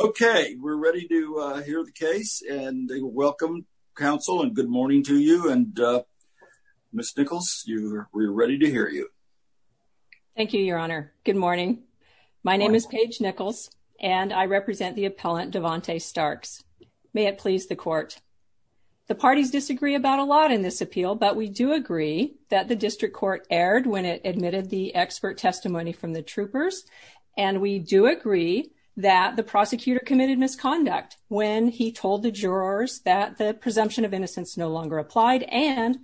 Okay, we're ready to hear the case and welcome counsel and good morning to you and Miss Nichols, we're ready to hear you. Thank you, your honor. Good morning. My name is Paige Nichols and I represent the appellant Devante Starks. May it please the court. The parties disagree about a lot in this appeal, but we do agree that the district court erred when it that the prosecutor committed misconduct when he told the jurors that the presumption of innocence no longer applied and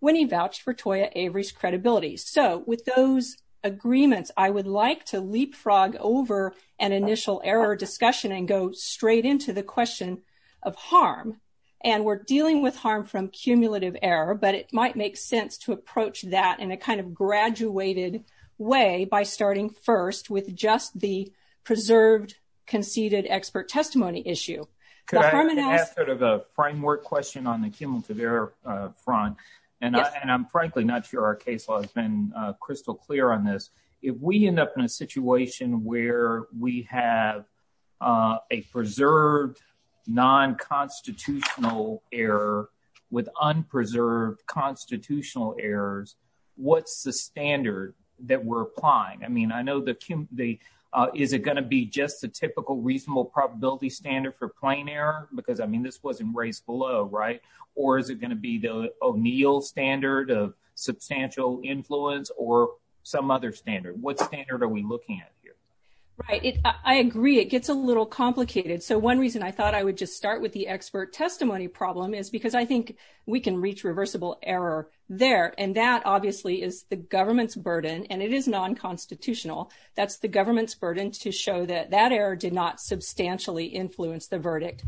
when he vouched for Toya Avery's credibility. So with those agreements, I would like to leapfrog over an initial error discussion and go straight into the question of harm. And we're dealing with harm from cumulative error, but it might make sense to approach that in a kind of graduated way by starting first with just the preserved, conceded expert testimony issue. Could I ask sort of a framework question on the cumulative error front? And I'm frankly not sure our case law has been crystal clear on this. If we end up in a situation where we have a preserved non-constitutional error with unpreserved constitutional errors, what's the standard that we're applying? I mean, I know the, is it going to be just the typical reasonable probability standard for plain error? Because I mean, this wasn't raised below, right? Or is it going to be the O'Neill standard of substantial influence or some other standard? What standard are we looking at here? Right. I agree. It gets a little complicated. So one reason I thought I would just start with the expert testimony problem is because I think we can reach reversible error there. And that obviously is the government's burden and it is non-constitutional. That's the government's burden to show that that error did not substantially influence the verdict.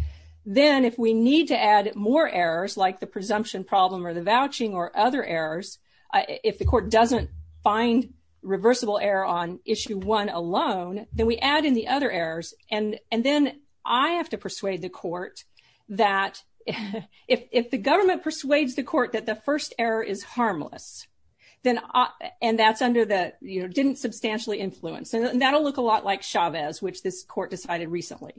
Then if we need to add more errors like the presumption problem or the vouching or other errors, if the court doesn't find reversible error on issue one alone, then we add in the other errors. And then I have to persuade the court that if the government persuades the court that the first error is harmless, then, and that's under the, you know, didn't substantially influence, that'll look a lot like Chavez, which this court decided recently.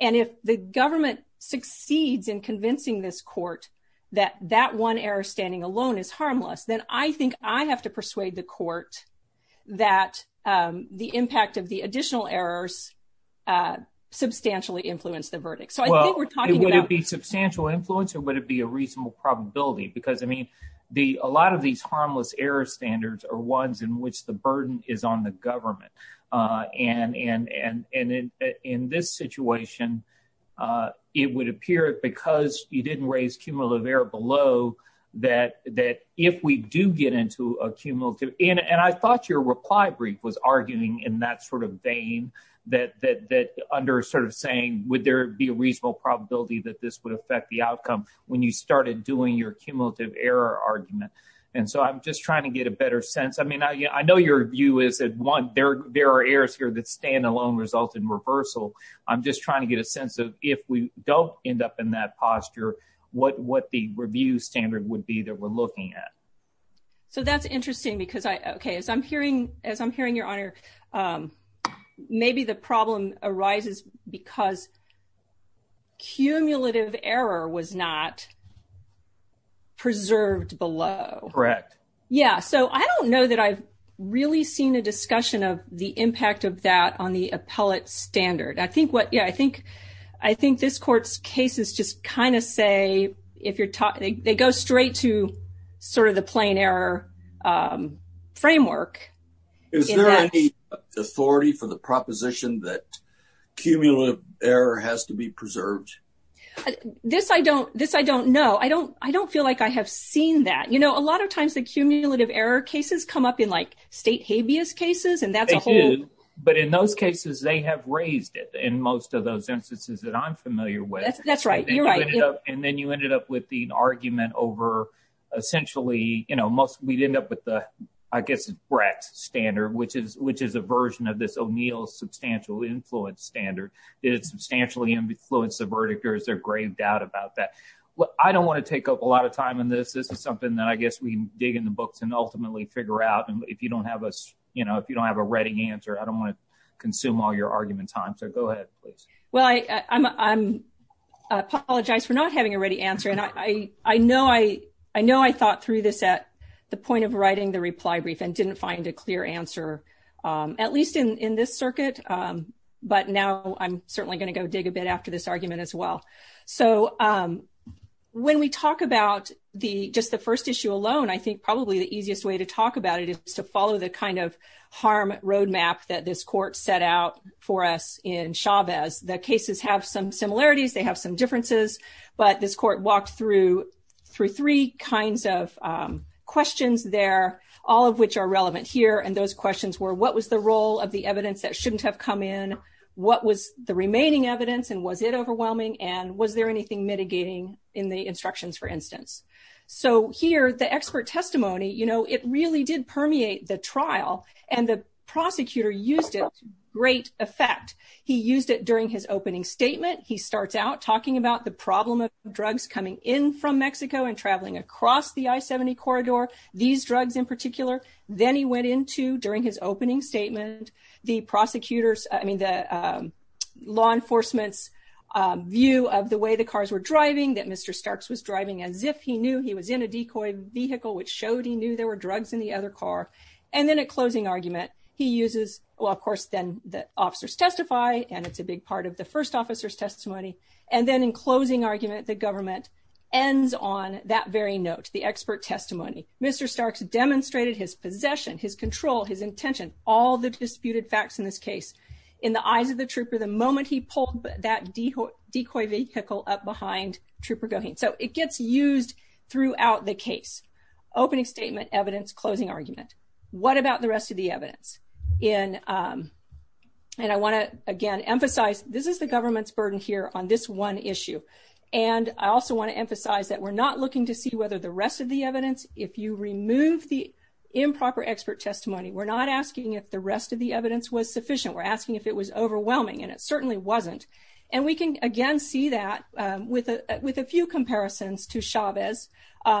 And if the government succeeds in convincing this court that that one error standing alone is harmless, then I think I have to persuade the court that the impact of the additional errors substantially influence the verdict. So I think we're talking about- Would it be substantial influence or would it be a reasonable probability? Because I mean, a lot of these harmless error standards are ones in which the burden is on the government. And in this situation, it would appear because you didn't raise cumulative error below that if we do get into a cumulative, and I thought your reply brief was arguing in that sort of vein that under sort of saying, would there be a reasonable probability that this would affect the outcome when you started doing your cumulative error argument? And so I'm just trying to get a better sense. I mean, I know your view is that one, there are errors here that stand alone result in reversal. I'm just trying to get a sense of if we don't end up in that posture, what the review standard would be that we're looking at. So that's interesting because I- Okay. As I'm hearing your honor, maybe the problem arises because cumulative error was not preserved below. Correct. Yeah. So I don't know that I've really seen a discussion of the impact of that on the cases. I mean, most courts cases just kind of say, they go straight to sort of the plain error framework. Is there any authority for the proposition that cumulative error has to be preserved? This I don't know. I don't feel like I have seen that. A lot of times the cumulative error cases come up in like state habeas cases and that's a whole- That's right. You're right. And then you ended up with the argument over essentially, we'd end up with the, I guess, Brecht standard, which is a version of this O'Neill substantial influence standard. Did it substantially influence the verdict or is there grave doubt about that? I don't want to take up a lot of time on this. This is something that I guess we dig in the books and ultimately figure out. And if you don't have a ready answer, I don't want to consume all your argument time. So go ahead, please. Well, I apologize for not having a ready answer. And I know I thought through this at the point of writing the reply brief and didn't find a clear answer, at least in this circuit. But now I'm certainly going to go dig a bit after this argument as well. So when we talk about just the first issue alone, I think probably the easiest way to talk about it is to follow the kind of harm roadmap that this court set out for us in Chavez. The cases have some similarities. They have some differences. But this court walked through three kinds of questions there, all of which are relevant here. And those questions were, what was the role of the evidence that shouldn't have come in? What was the remaining evidence and was it overwhelming? And was there anything mitigating in the instructions, for instance? So here, the expert testimony, it really did permeate the trial and the prosecutor used it to great effect. He used it during his opening statement. He starts out talking about the problem of drugs coming in from Mexico and traveling across the I-70 corridor, these drugs in particular. Then he went into during his opening statement, the prosecutors, I mean, the law enforcement's view of the way the cars were driving, that Mr. Starks was driving as if he knew he was in a decoy vehicle, which showed he knew there were drugs in the other car. And then at closing argument, he uses, well, of course, then the officers testify, and it's a big part of the first officer's testimony. And then in closing argument, the government ends on that very note, the expert testimony. Mr. Starks demonstrated his possession, his control, his intention, all the disputed facts in this case. In the eyes of the trooper, the moment he pulled that decoy vehicle up behind Trooper Goheen. So it gets used throughout the case. Opening statement, evidence, closing argument. What about the rest of the evidence? And I want to, again, emphasize, this is the government's burden here on this one issue. And I also want to emphasize that we're not looking to see whether the rest of the evidence, if you remove the improper expert testimony, we're not asking if the rest of the evidence was sufficient. We're asking if it was with a few comparisons to Chavez.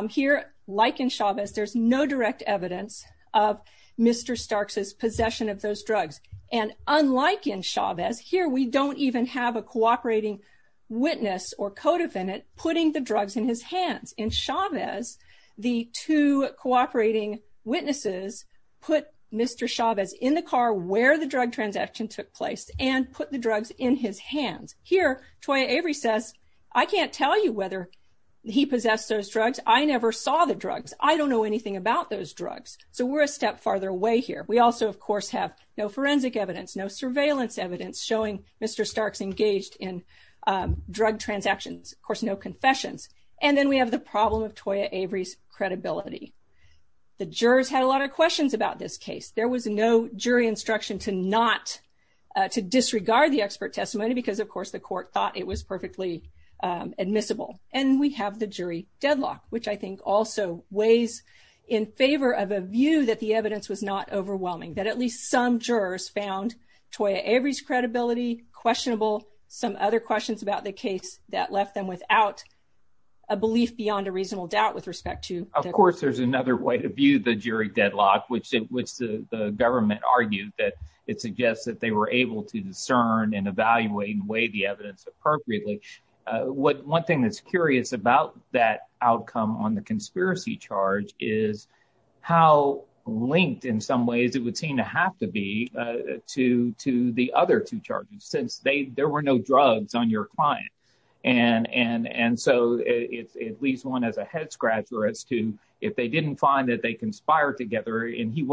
Here, like in Chavez, there's no direct evidence of Mr. Starks' possession of those drugs. And unlike in Chavez, here we don't even have a cooperating witness or co-defendant putting the drugs in his hands. In Chavez, the two cooperating witnesses put Mr. Chavez in the car where the drug transaction took place and put the drugs in his I can't tell you whether he possessed those drugs. I never saw the drugs. I don't know anything about those drugs. So we're a step farther away here. We also, of course, have no forensic evidence, no surveillance evidence showing Mr. Starks engaged in drug transactions. Of course, no confessions. And then we have the problem of Toya Avery's credibility. The jurors had a lot of questions about this case. There was no jury instruction to not to disregard the expert testimony because, of course, the court thought it was perfectly admissible. And we have the jury deadlock, which I think also weighs in favor of a view that the evidence was not overwhelming, that at least some jurors found Toya Avery's credibility questionable. Some other questions about the case that left them without a belief beyond a reasonable doubt with respect to. Of course, there's another way to view the jury deadlock, which the government argued that it suggests that they were able to discern and evaluate and weigh the evidence appropriately. One thing that's curious about that outcome on the conspiracy charge is how linked, in some ways, it would seem to have to be to the other two charges, since there were no drugs on your client. And so it leaves one as a head scratcher as to if they didn't find that they conspired together and he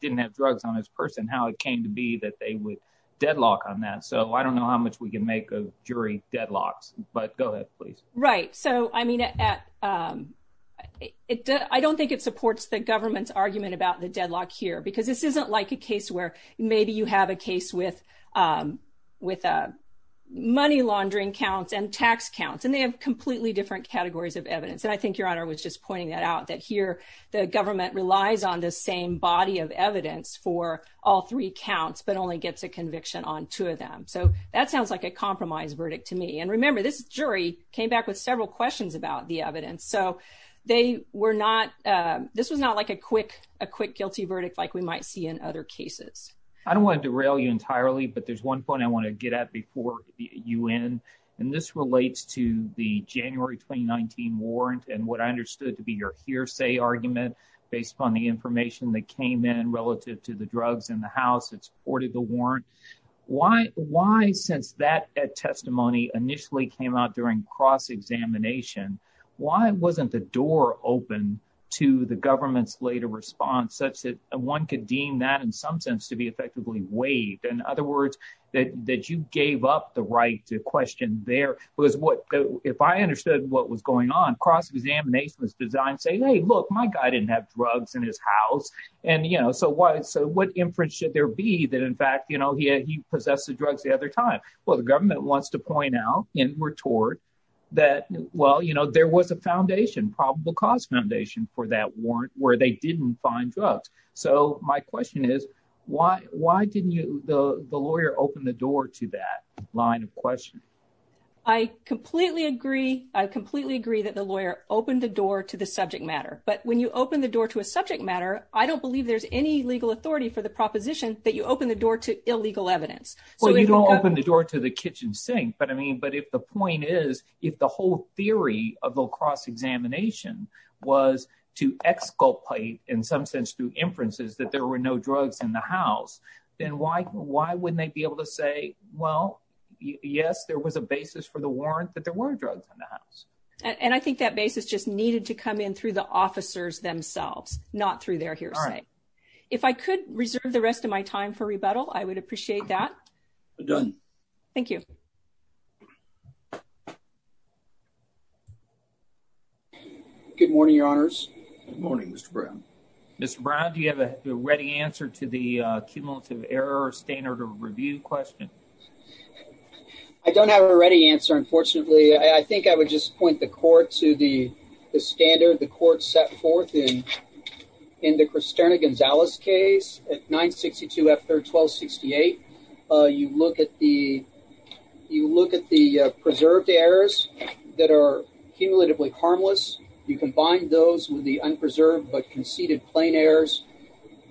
didn't have drugs on his person, how it came to be that they would deadlock on that. So I don't know how much we can make of jury deadlocks, but go ahead, please. Right. So, I mean, I don't think it supports the government's argument about the deadlock here, because this isn't like a case where maybe you have a case with money laundering counts and tax counts, and they have completely different categories of evidence. And I think was just pointing that out, that here, the government relies on the same body of evidence for all three counts, but only gets a conviction on two of them. So that sounds like a compromise verdict to me. And remember, this jury came back with several questions about the evidence. So this was not like a quick guilty verdict like we might see in other cases. I don't want to derail you entirely, but there's one point I want to get at before you end. And this relates to the January 2019 warrant and what I understood to be your hearsay argument based upon the information that came in relative to the drugs in the house that supported the warrant. Why, since that testimony initially came out during cross-examination, why wasn't the door open to the government's later response such that one could deem that in some sense to be right to question there? Because if I understood what was going on, cross-examination was designed saying, hey, look, my guy didn't have drugs in his house. And so what inference should there be that, in fact, he possessed the drugs the other time? Well, the government wants to point out and retort that, well, there was a foundation, probable cause foundation for that warrant where they didn't find drugs. So my question is, why didn't the lawyer open the door to that line of questioning? I completely agree. I completely agree that the lawyer opened the door to the subject matter. But when you open the door to a subject matter, I don't believe there's any legal authority for the proposition that you open the door to illegal evidence. Well, you don't open the door to the kitchen sink. But I mean, but if the point is, if the whole theory of the cross-examination was to exculpate, in some sense, through inferences that there were no drugs in the house, then why wouldn't they be able to say, well, yes, there was a basis for the warrant that there were drugs in the house? And I think that basis just needed to come in through the officers themselves, not through their hearsay. If I could reserve the opportunity to ask a question, I would like to ask a question to Mr. Brown. Mr. Brown, do you have a ready answer to the cumulative error standard of review question? I don't have a ready answer, unfortunately. I think I would just point the court to the standard the court set forth in the Cristerna-Gonzalez case at 962-F3-1268. You look at the preserved errors that are cumulatively harmless. You combine those with the unpreserved but conceded plain errors,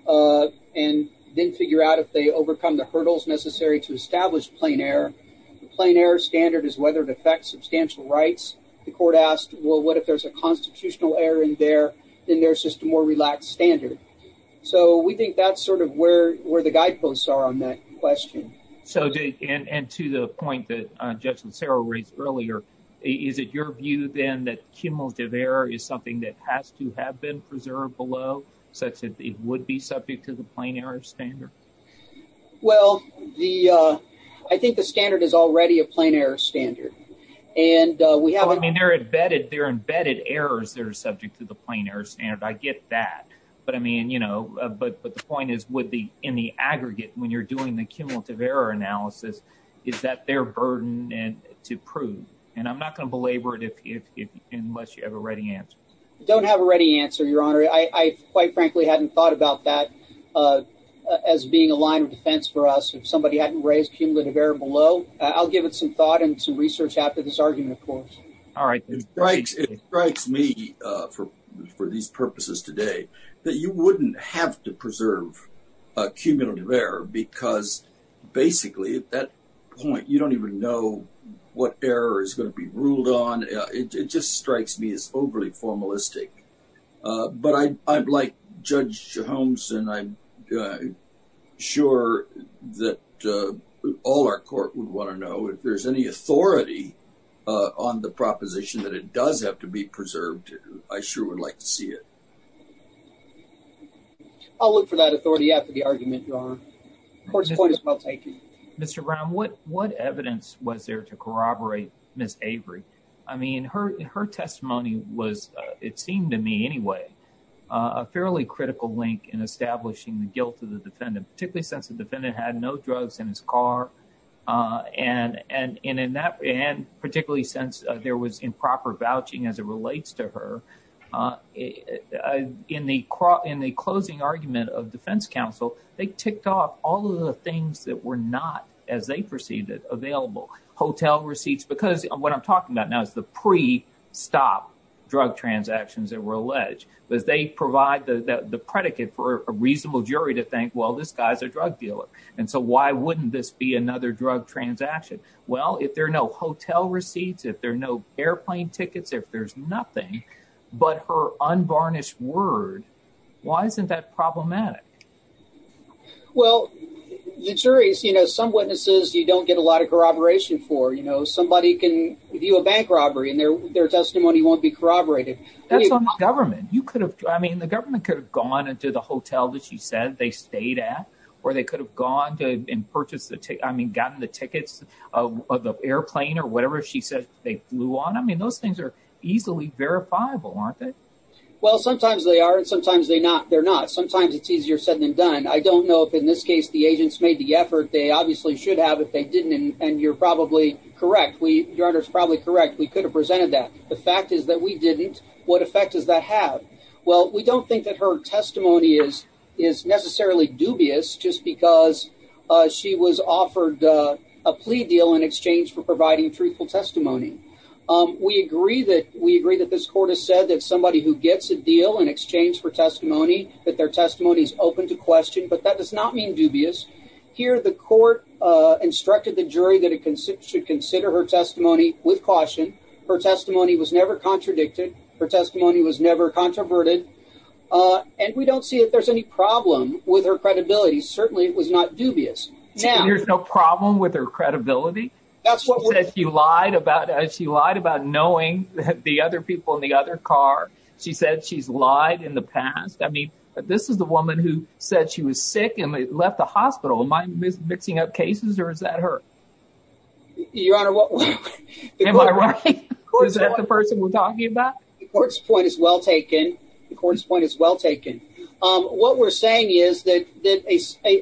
and then figure out if they overcome the hurdles necessary to establish plain error. The plain error standard is whether it affects substantial rights. The court asked, well, what if there's a constitutional error in there? Then there's just more relaxed standard. So we think that's sort of where the guideposts are on that question. So, and to the point that Judge Lancero raised earlier, is it your view then that cumulative error is something that has to have been preserved below, such that it would be subject to the plain error standard? Well, I think the standard is already a plain error standard. And we haven't- I mean, they're embedded errors that are subject to the plain error standard. I get that. But I mean, you know, but the point is, in the aggregate, when you're doing the cumulative error analysis, is that their burden to prove? And I'm not going to belabor it unless you have a ready answer. I don't have a ready answer, Your Honor. I quite frankly hadn't thought about that as being a line of defense for us. If somebody hadn't raised cumulative error below, I'll give it some thought and some research after this argument, of course. All right. It strikes me, for these purposes today, that you wouldn't have to preserve a cumulative error because basically at that point, you don't even know what error is going to be ruled on. It just strikes me as overly formalistic. But I'd like Judge Holmes and I'm sure that all our court would want to know if there's any authority on the proposition that it does have to be preserved. I sure would like to see it. I'll look for that authority after the argument, Your Honor. Court's point is well taken. Mr. Brown, what evidence was there to corroborate Ms. Avery? I mean, her testimony was, it seemed to me anyway, a fairly critical link in establishing the guilt of the defendant, particularly since the defendant had no drugs in his car and particularly since there was improper vouching as it relates to her. In the closing argument of defense counsel, they ticked off all of the things that were not, as they perceived it, available. Hotel receipts, because what I'm talking about now is the pre-stop drug transactions that were alleged, but they provide the predicate for a reasonable jury to think, well, this guy's a drug dealer, and so why wouldn't this be another drug transaction? Well, if there are no hotel receipts, if there are no airplane tickets, if there's nothing but her unvarnished word, why isn't that problematic? Well, the jury's, you know, some witnesses you don't get a lot of corroboration for. You know, somebody can view a bank robbery and their testimony won't be corroborated. That's on the government. You could have, I mean, the government could have gone into the hotel that she said they stayed at or they could have gone to and purchased the, I mean, gotten the tickets of the airplane or whatever she said they flew on. I mean, those things are easily verifiable, aren't they? Well, sometimes they are and sometimes they're not. Sometimes it's easier said than done. I don't know if in this case the agents made the effort. They obviously should have if they didn't, and you're probably correct. Your Honor's probably correct. We could have presented that. The fact is that we didn't. What effect does that have? Well, we don't think that her testimony is necessarily dubious just because she was offered a plea deal in exchange for providing truthful testimony. We agree that this court has said that somebody who gets a deal in exchange for testimony, that their testimony is open to court, instructed the jury that it should consider her testimony with caution. Her testimony was never contradicted. Her testimony was never controverted, and we don't see that there's any problem with her credibility. Certainly it was not dubious. There's no problem with her credibility? That's what she lied about. She lied about knowing the other people in the other car. She said she's lied in the past. I mean, this is the woman who said she was sick and left the case. Is that her? Your Honor, is that the person we're talking about? The court's point is well taken. The court's point is well taken. What we're saying is that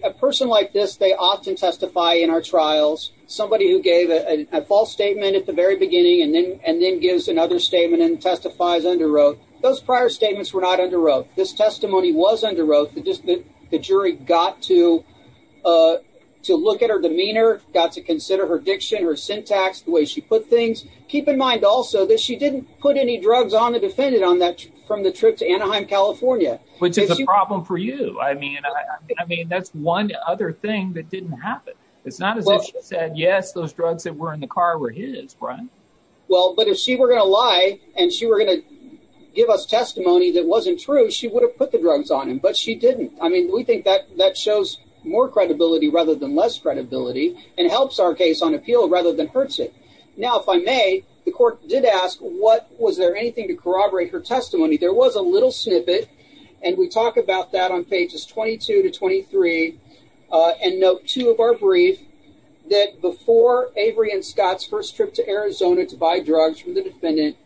a person like this, they often testify in our trials. Somebody who gave a false statement at the very beginning and then gives another statement and testifies under oath, those prior statements were not under oath. This demeanor, got to consider her diction, her syntax, the way she put things. Keep in mind also that she didn't put any drugs on the defendant from the trip to Anaheim, California. Which is a problem for you. I mean, that's one other thing that didn't happen. It's not as if she said, yes, those drugs that were in the car were his, Brian. Well, but if she were going to lie and she were going to give us testimony that wasn't true, she would have put the drugs on him, but she didn't. I mean, we think that that shows more credibility rather than less credibility and helps our case on appeal rather than hurts it. Now, if I may, the court did ask what was there anything to corroborate her testimony? There was a little snippet and we talk about that on pages 22 to 23 and note two of our brief that before Avery and Scott's first trip to Arizona to buy drugs from the defendant,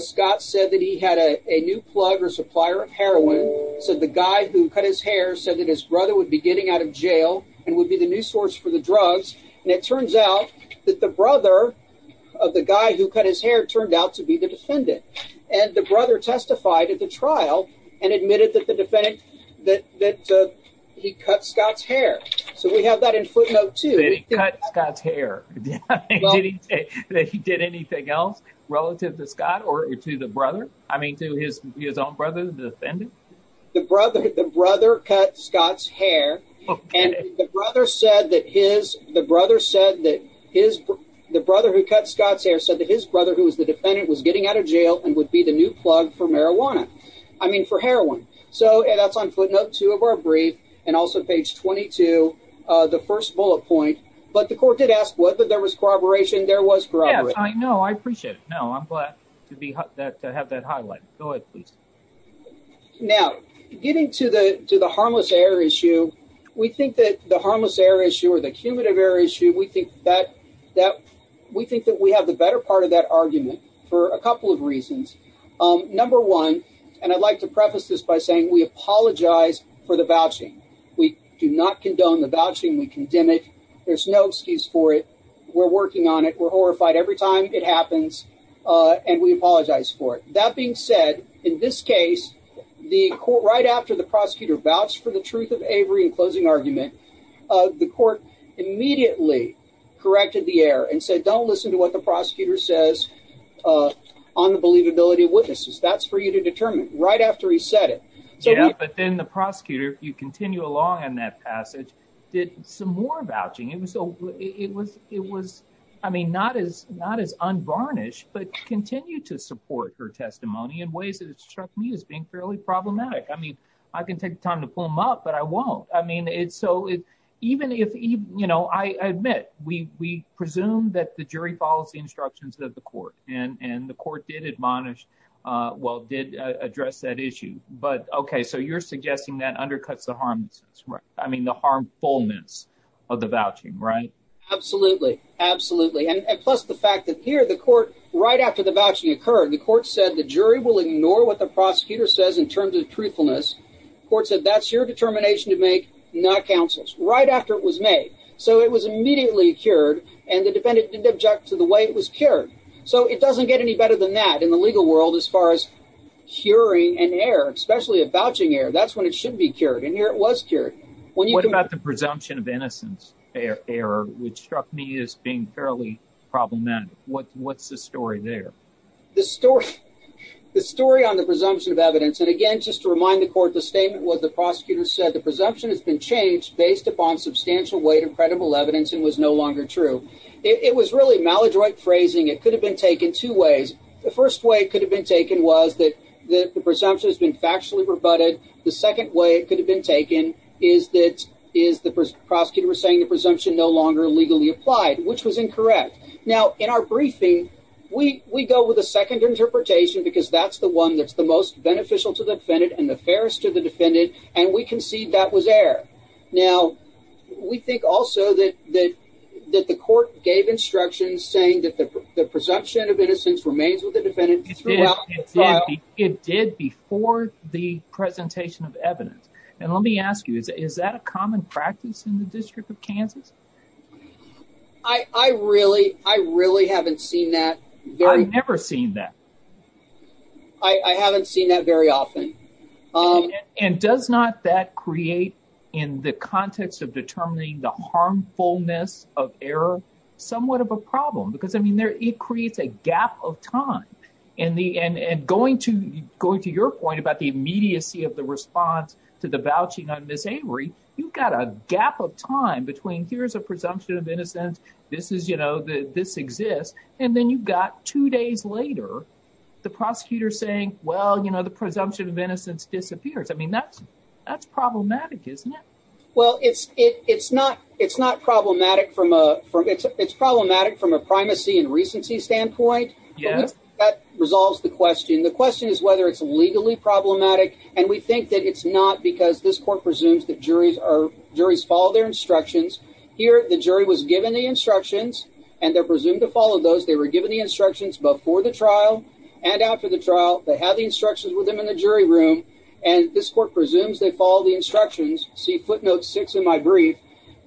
Scott said that he had a new plug or supplier of heroin. So the guy who cut his hair said that his brother would be getting out of jail and would be the new source for the drugs. And it turns out that the brother of the guy who cut his hair turned out to be the defendant. And the brother testified at the trial and admitted that the defendant that he cut Scott's hair. So we have that in footnote to Scott's hair that he did anything else relative to Scott or to brother. I mean, to his own brother, the defendant, the brother, the brother cut Scott's hair and the brother said that his the brother said that his the brother who cut Scott's hair said that his brother, who was the defendant, was getting out of jail and would be the new plug for marijuana. I mean, for heroin. So that's on footnote two of our brief and also page 22, the first bullet point. But the court did ask whether there was corroboration. There was. I know. I appreciate it. I'm glad to have that highlight. Go ahead, please. Now, getting to the to the harmless air issue, we think that the harmless air issue or the cumulative air issue, we think that that we think that we have the better part of that argument for a couple of reasons. Number one, and I'd like to preface this by saying we apologize for the vouching. We do not condone the vouching. We condemn it. There's no excuse for it. We're working on it. We're horrified every time it happens and we apologize for it. That being said, in this case, the court right after the prosecutor vouched for the truth of Avery in closing argument, the court immediately corrected the air and said, don't listen to what the prosecutor says on the believability of witnesses. That's for you to determine right after he said it. So, yeah, but then the prosecutor, if you continue along in that passage, did some more vouching. It was so it was it was, I mean, not as not as unvarnished, but continue to support her testimony in ways that struck me as being fairly problematic. I mean, I can take the time to pull them up, but I won't. I mean, it's so even if, you know, I admit we presume that the jury follows the instructions of the court and the court did admonish, well, did address that issue. But OK, so you're suggesting that undercuts the harm. I mean, the harmfulness of the vouching, right? Absolutely. Absolutely. And plus the fact that here the court right after the vouching occurred, the court said the jury will ignore what the prosecutor says in terms of truthfulness. The court said that's your determination to make, not counsel's right after it was made. So it was immediately cured and the defendant didn't object to the way it was cured. So it doesn't get any better than that in the legal world as far as curing an error, especially a vouching error. That's when it should be cured. And here it was cured. What about the presumption of innocence error, which struck me as being fairly problematic? What's the story there? The story, the story on the presumption of evidence. And again, just to remind the court, the statement was the prosecutor said the presumption has been changed based upon substantial weight of credible evidence and was no longer true. It was really maladroit phrasing. It could have been taken two ways. The first way it could have been taken was that the presumption has been factually rebutted. The second way it could have been taken is that is the prosecutor was saying the presumption no longer legally applied, which was incorrect. Now, in our briefing, we we go with a second interpretation because that's the one that's the most beneficial to the defendant and the fairest to the defendant. And we concede that was error. Now, we think also that that that the court gave instructions saying that the presumption of innocence remains with the defendant. It did before the presentation of evidence. And let me ask you, is that a common practice in the District of Kansas? I really I really haven't seen that. I've never seen that. I haven't seen that very often. And does not that create in the context of determining the and going to going to your point about the immediacy of the response to the vouching on Miss Avery, you've got a gap of time between here's a presumption of innocence. This is you know, this exists. And then you've got two days later, the prosecutor saying, well, you know, the presumption of innocence disappears. I mean, that's that's problematic, isn't it? Well, it's it's not it's not problematic from a it's problematic from a primacy and recency standpoint. Yes, that resolves the question. The question is whether it's legally problematic. And we think that it's not because this court presumes that juries are juries follow their instructions here. The jury was given the instructions and they're presumed to follow those. They were given the instructions before the trial and after the trial. They have the instructions with them in the jury room. And this court presumes they follow the instructions. See footnote six in my brief,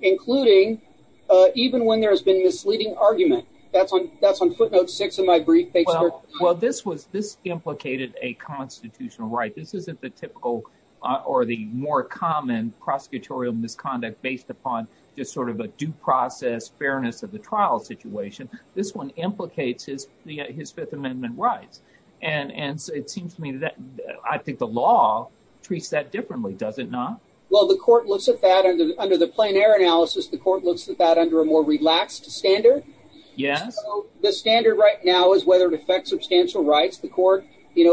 including even when there has been misleading argument. That's on that's on footnote six in my brief. Well, this was this implicated a constitutional right. This isn't the typical or the more common prosecutorial misconduct based upon just sort of a due process fairness of the trial situation. This one implicates his his Fifth Amendment rights. And it seems to me that I think the law treats that differently, does it not? Well, the court looks at that under the plain air analysis. The court looks at that a more relaxed standard. Yes. The standard right now is whether it affects substantial rights. The court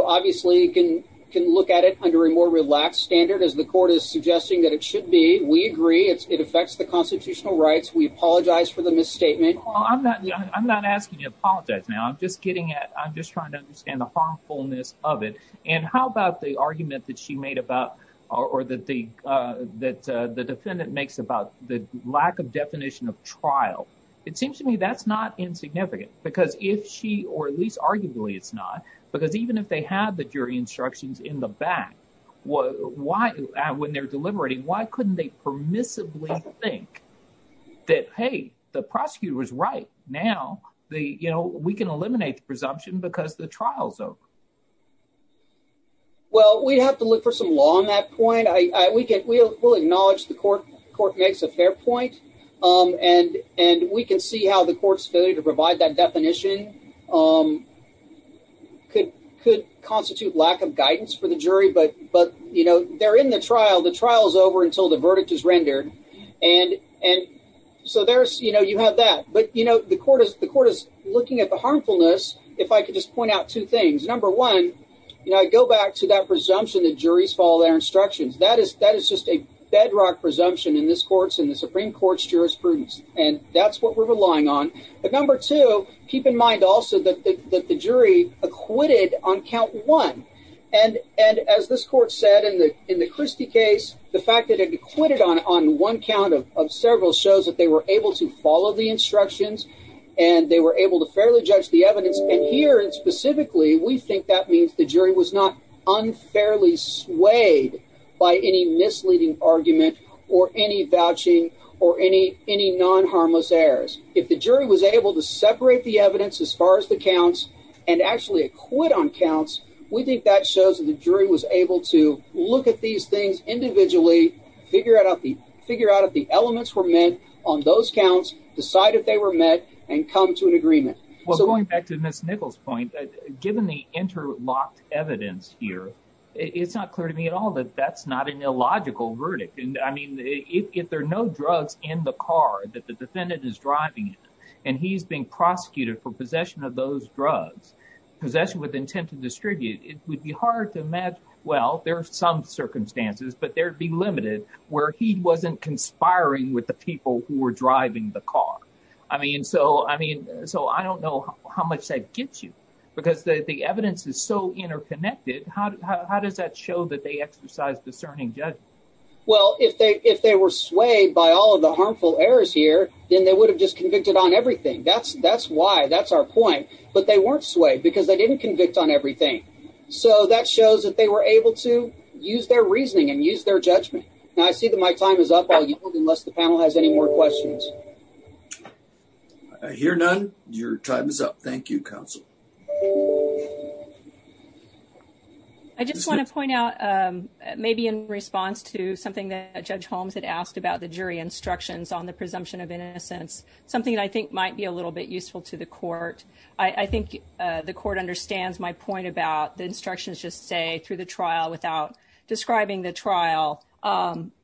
obviously can can look at it under a more relaxed standard as the court is suggesting that it should be. We agree it affects the constitutional rights. We apologize for the misstatement. I'm not I'm not asking you to apologize now. I'm just getting at I'm just trying to understand the harmfulness of it. And how about the argument that she made about or that the that the defendant makes about the lack of definition of trial? It seems to me that's not insignificant, because if she or at least arguably it's not, because even if they had the jury instructions in the back, what why when they're deliberating, why couldn't they permissibly think that, hey, the prosecutor was right now? The you know, we can eliminate the presumption because the trial's over. Well, we'd have to look for some law on that point. We get we'll acknowledge the court court makes a fair point and and we can see how the court's failure to provide that definition could could constitute lack of guidance for the jury. But but, you know, they're in the trial. The trial is over until the verdict is rendered. And and so there's you know, you have that. But you know, the court is the court is looking at the harmfulness. If I could just point out two number one, you know, I go back to that presumption that juries follow their instructions. That is that is just a bedrock presumption in this court's in the Supreme Court's jurisprudence. And that's what we're relying on. But number two, keep in mind also that the jury acquitted on count one. And and as this court said in the in the Christie case, the fact that it acquitted on one count of several shows that they were able to follow the instructions and they were able to we think that means the jury was not unfairly swayed by any misleading argument or any vouching or any any non harmless errors. If the jury was able to separate the evidence as far as the counts and actually acquit on counts, we think that shows that the jury was able to look at these things individually, figure out the figure out if the elements were met on those counts, decide if they were met and come to an agreement. Well, going back to Miss Nichols point, given the interlocked evidence here, it's not clear to me at all that that's not an illogical verdict. And I mean, if there are no drugs in the car that the defendant is driving and he's being prosecuted for possession of those drugs, possession with intent to distribute, it would be hard to imagine. Well, there are some circumstances, but there'd be limited where he wasn't conspiring with the people who were driving the car. I mean, so I mean, how much that gets you because the evidence is so interconnected. How does that show that they exercise discerning judgment? Well, if they if they were swayed by all of the harmful errors here, then they would have just convicted on everything. That's that's why that's our point. But they weren't swayed because they didn't convict on everything. So that shows that they were able to use their reasoning and use their judgment. And I see that my time is up unless the panel has any more questions. I hear none. Your time is up. Thank you, counsel. I just want to point out maybe in response to something that Judge Holmes had asked about the jury instructions on the presumption of innocence, something that I think might be a little bit useful to the court. I think the court understands my point about the instructions just say through the trial without describing the trial.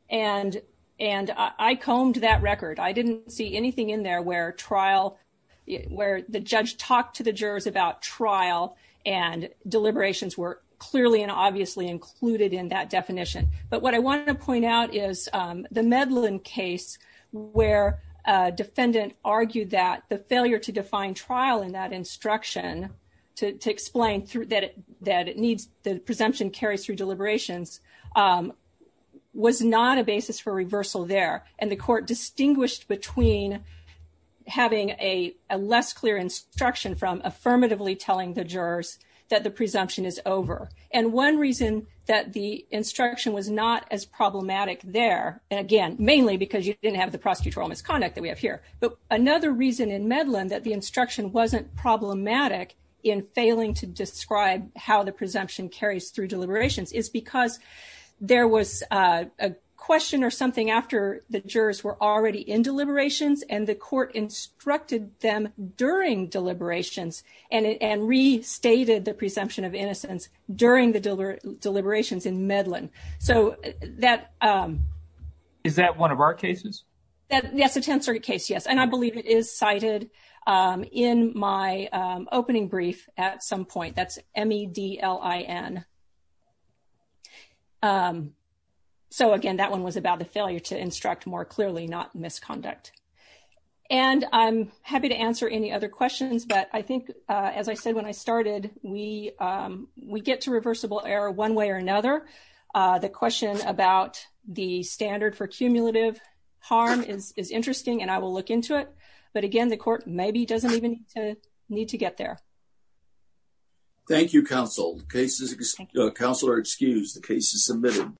And and I combed that record. I didn't see anything in there where trial where the judge talked to the jurors about trial and deliberations were clearly and obviously included in that definition. But what I wanted to point out is the Medlin case where a defendant argued that the failure to define trial in that instruction to explain that it needs the presumption carries through deliberations was not a basis for reversal there. And the court distinguished between having a less clear instruction from affirmatively telling the jurors that the presumption is over. And one reason that the instruction was not as problematic there, and again, mainly because you didn't have the prosecutorial misconduct that we have here. But another reason in Medlin that the instruction wasn't problematic in failing to describe how the presumption carries through deliberations is because there was a question or something after the jurors were already in deliberations and the court instructed them during deliberations and restated the presumption of innocence during the deliberations in Medlin. So that. Is that one of our cases? That's a Tenth Circuit case, yes. And I believe it is cited in my opening brief at some point. That's M-E-D-L-I-N. So again, that one was about the failure to instruct more clearly, not misconduct. And I'm happy to answer any other questions, but I think as I said when I started, we get to reversible error one way or another. The question about the standard for cumulative harm is interesting, and I will look into it. But again, the court maybe doesn't even need to get there. Thank you, counsel. Counselor excused. The case is submitted.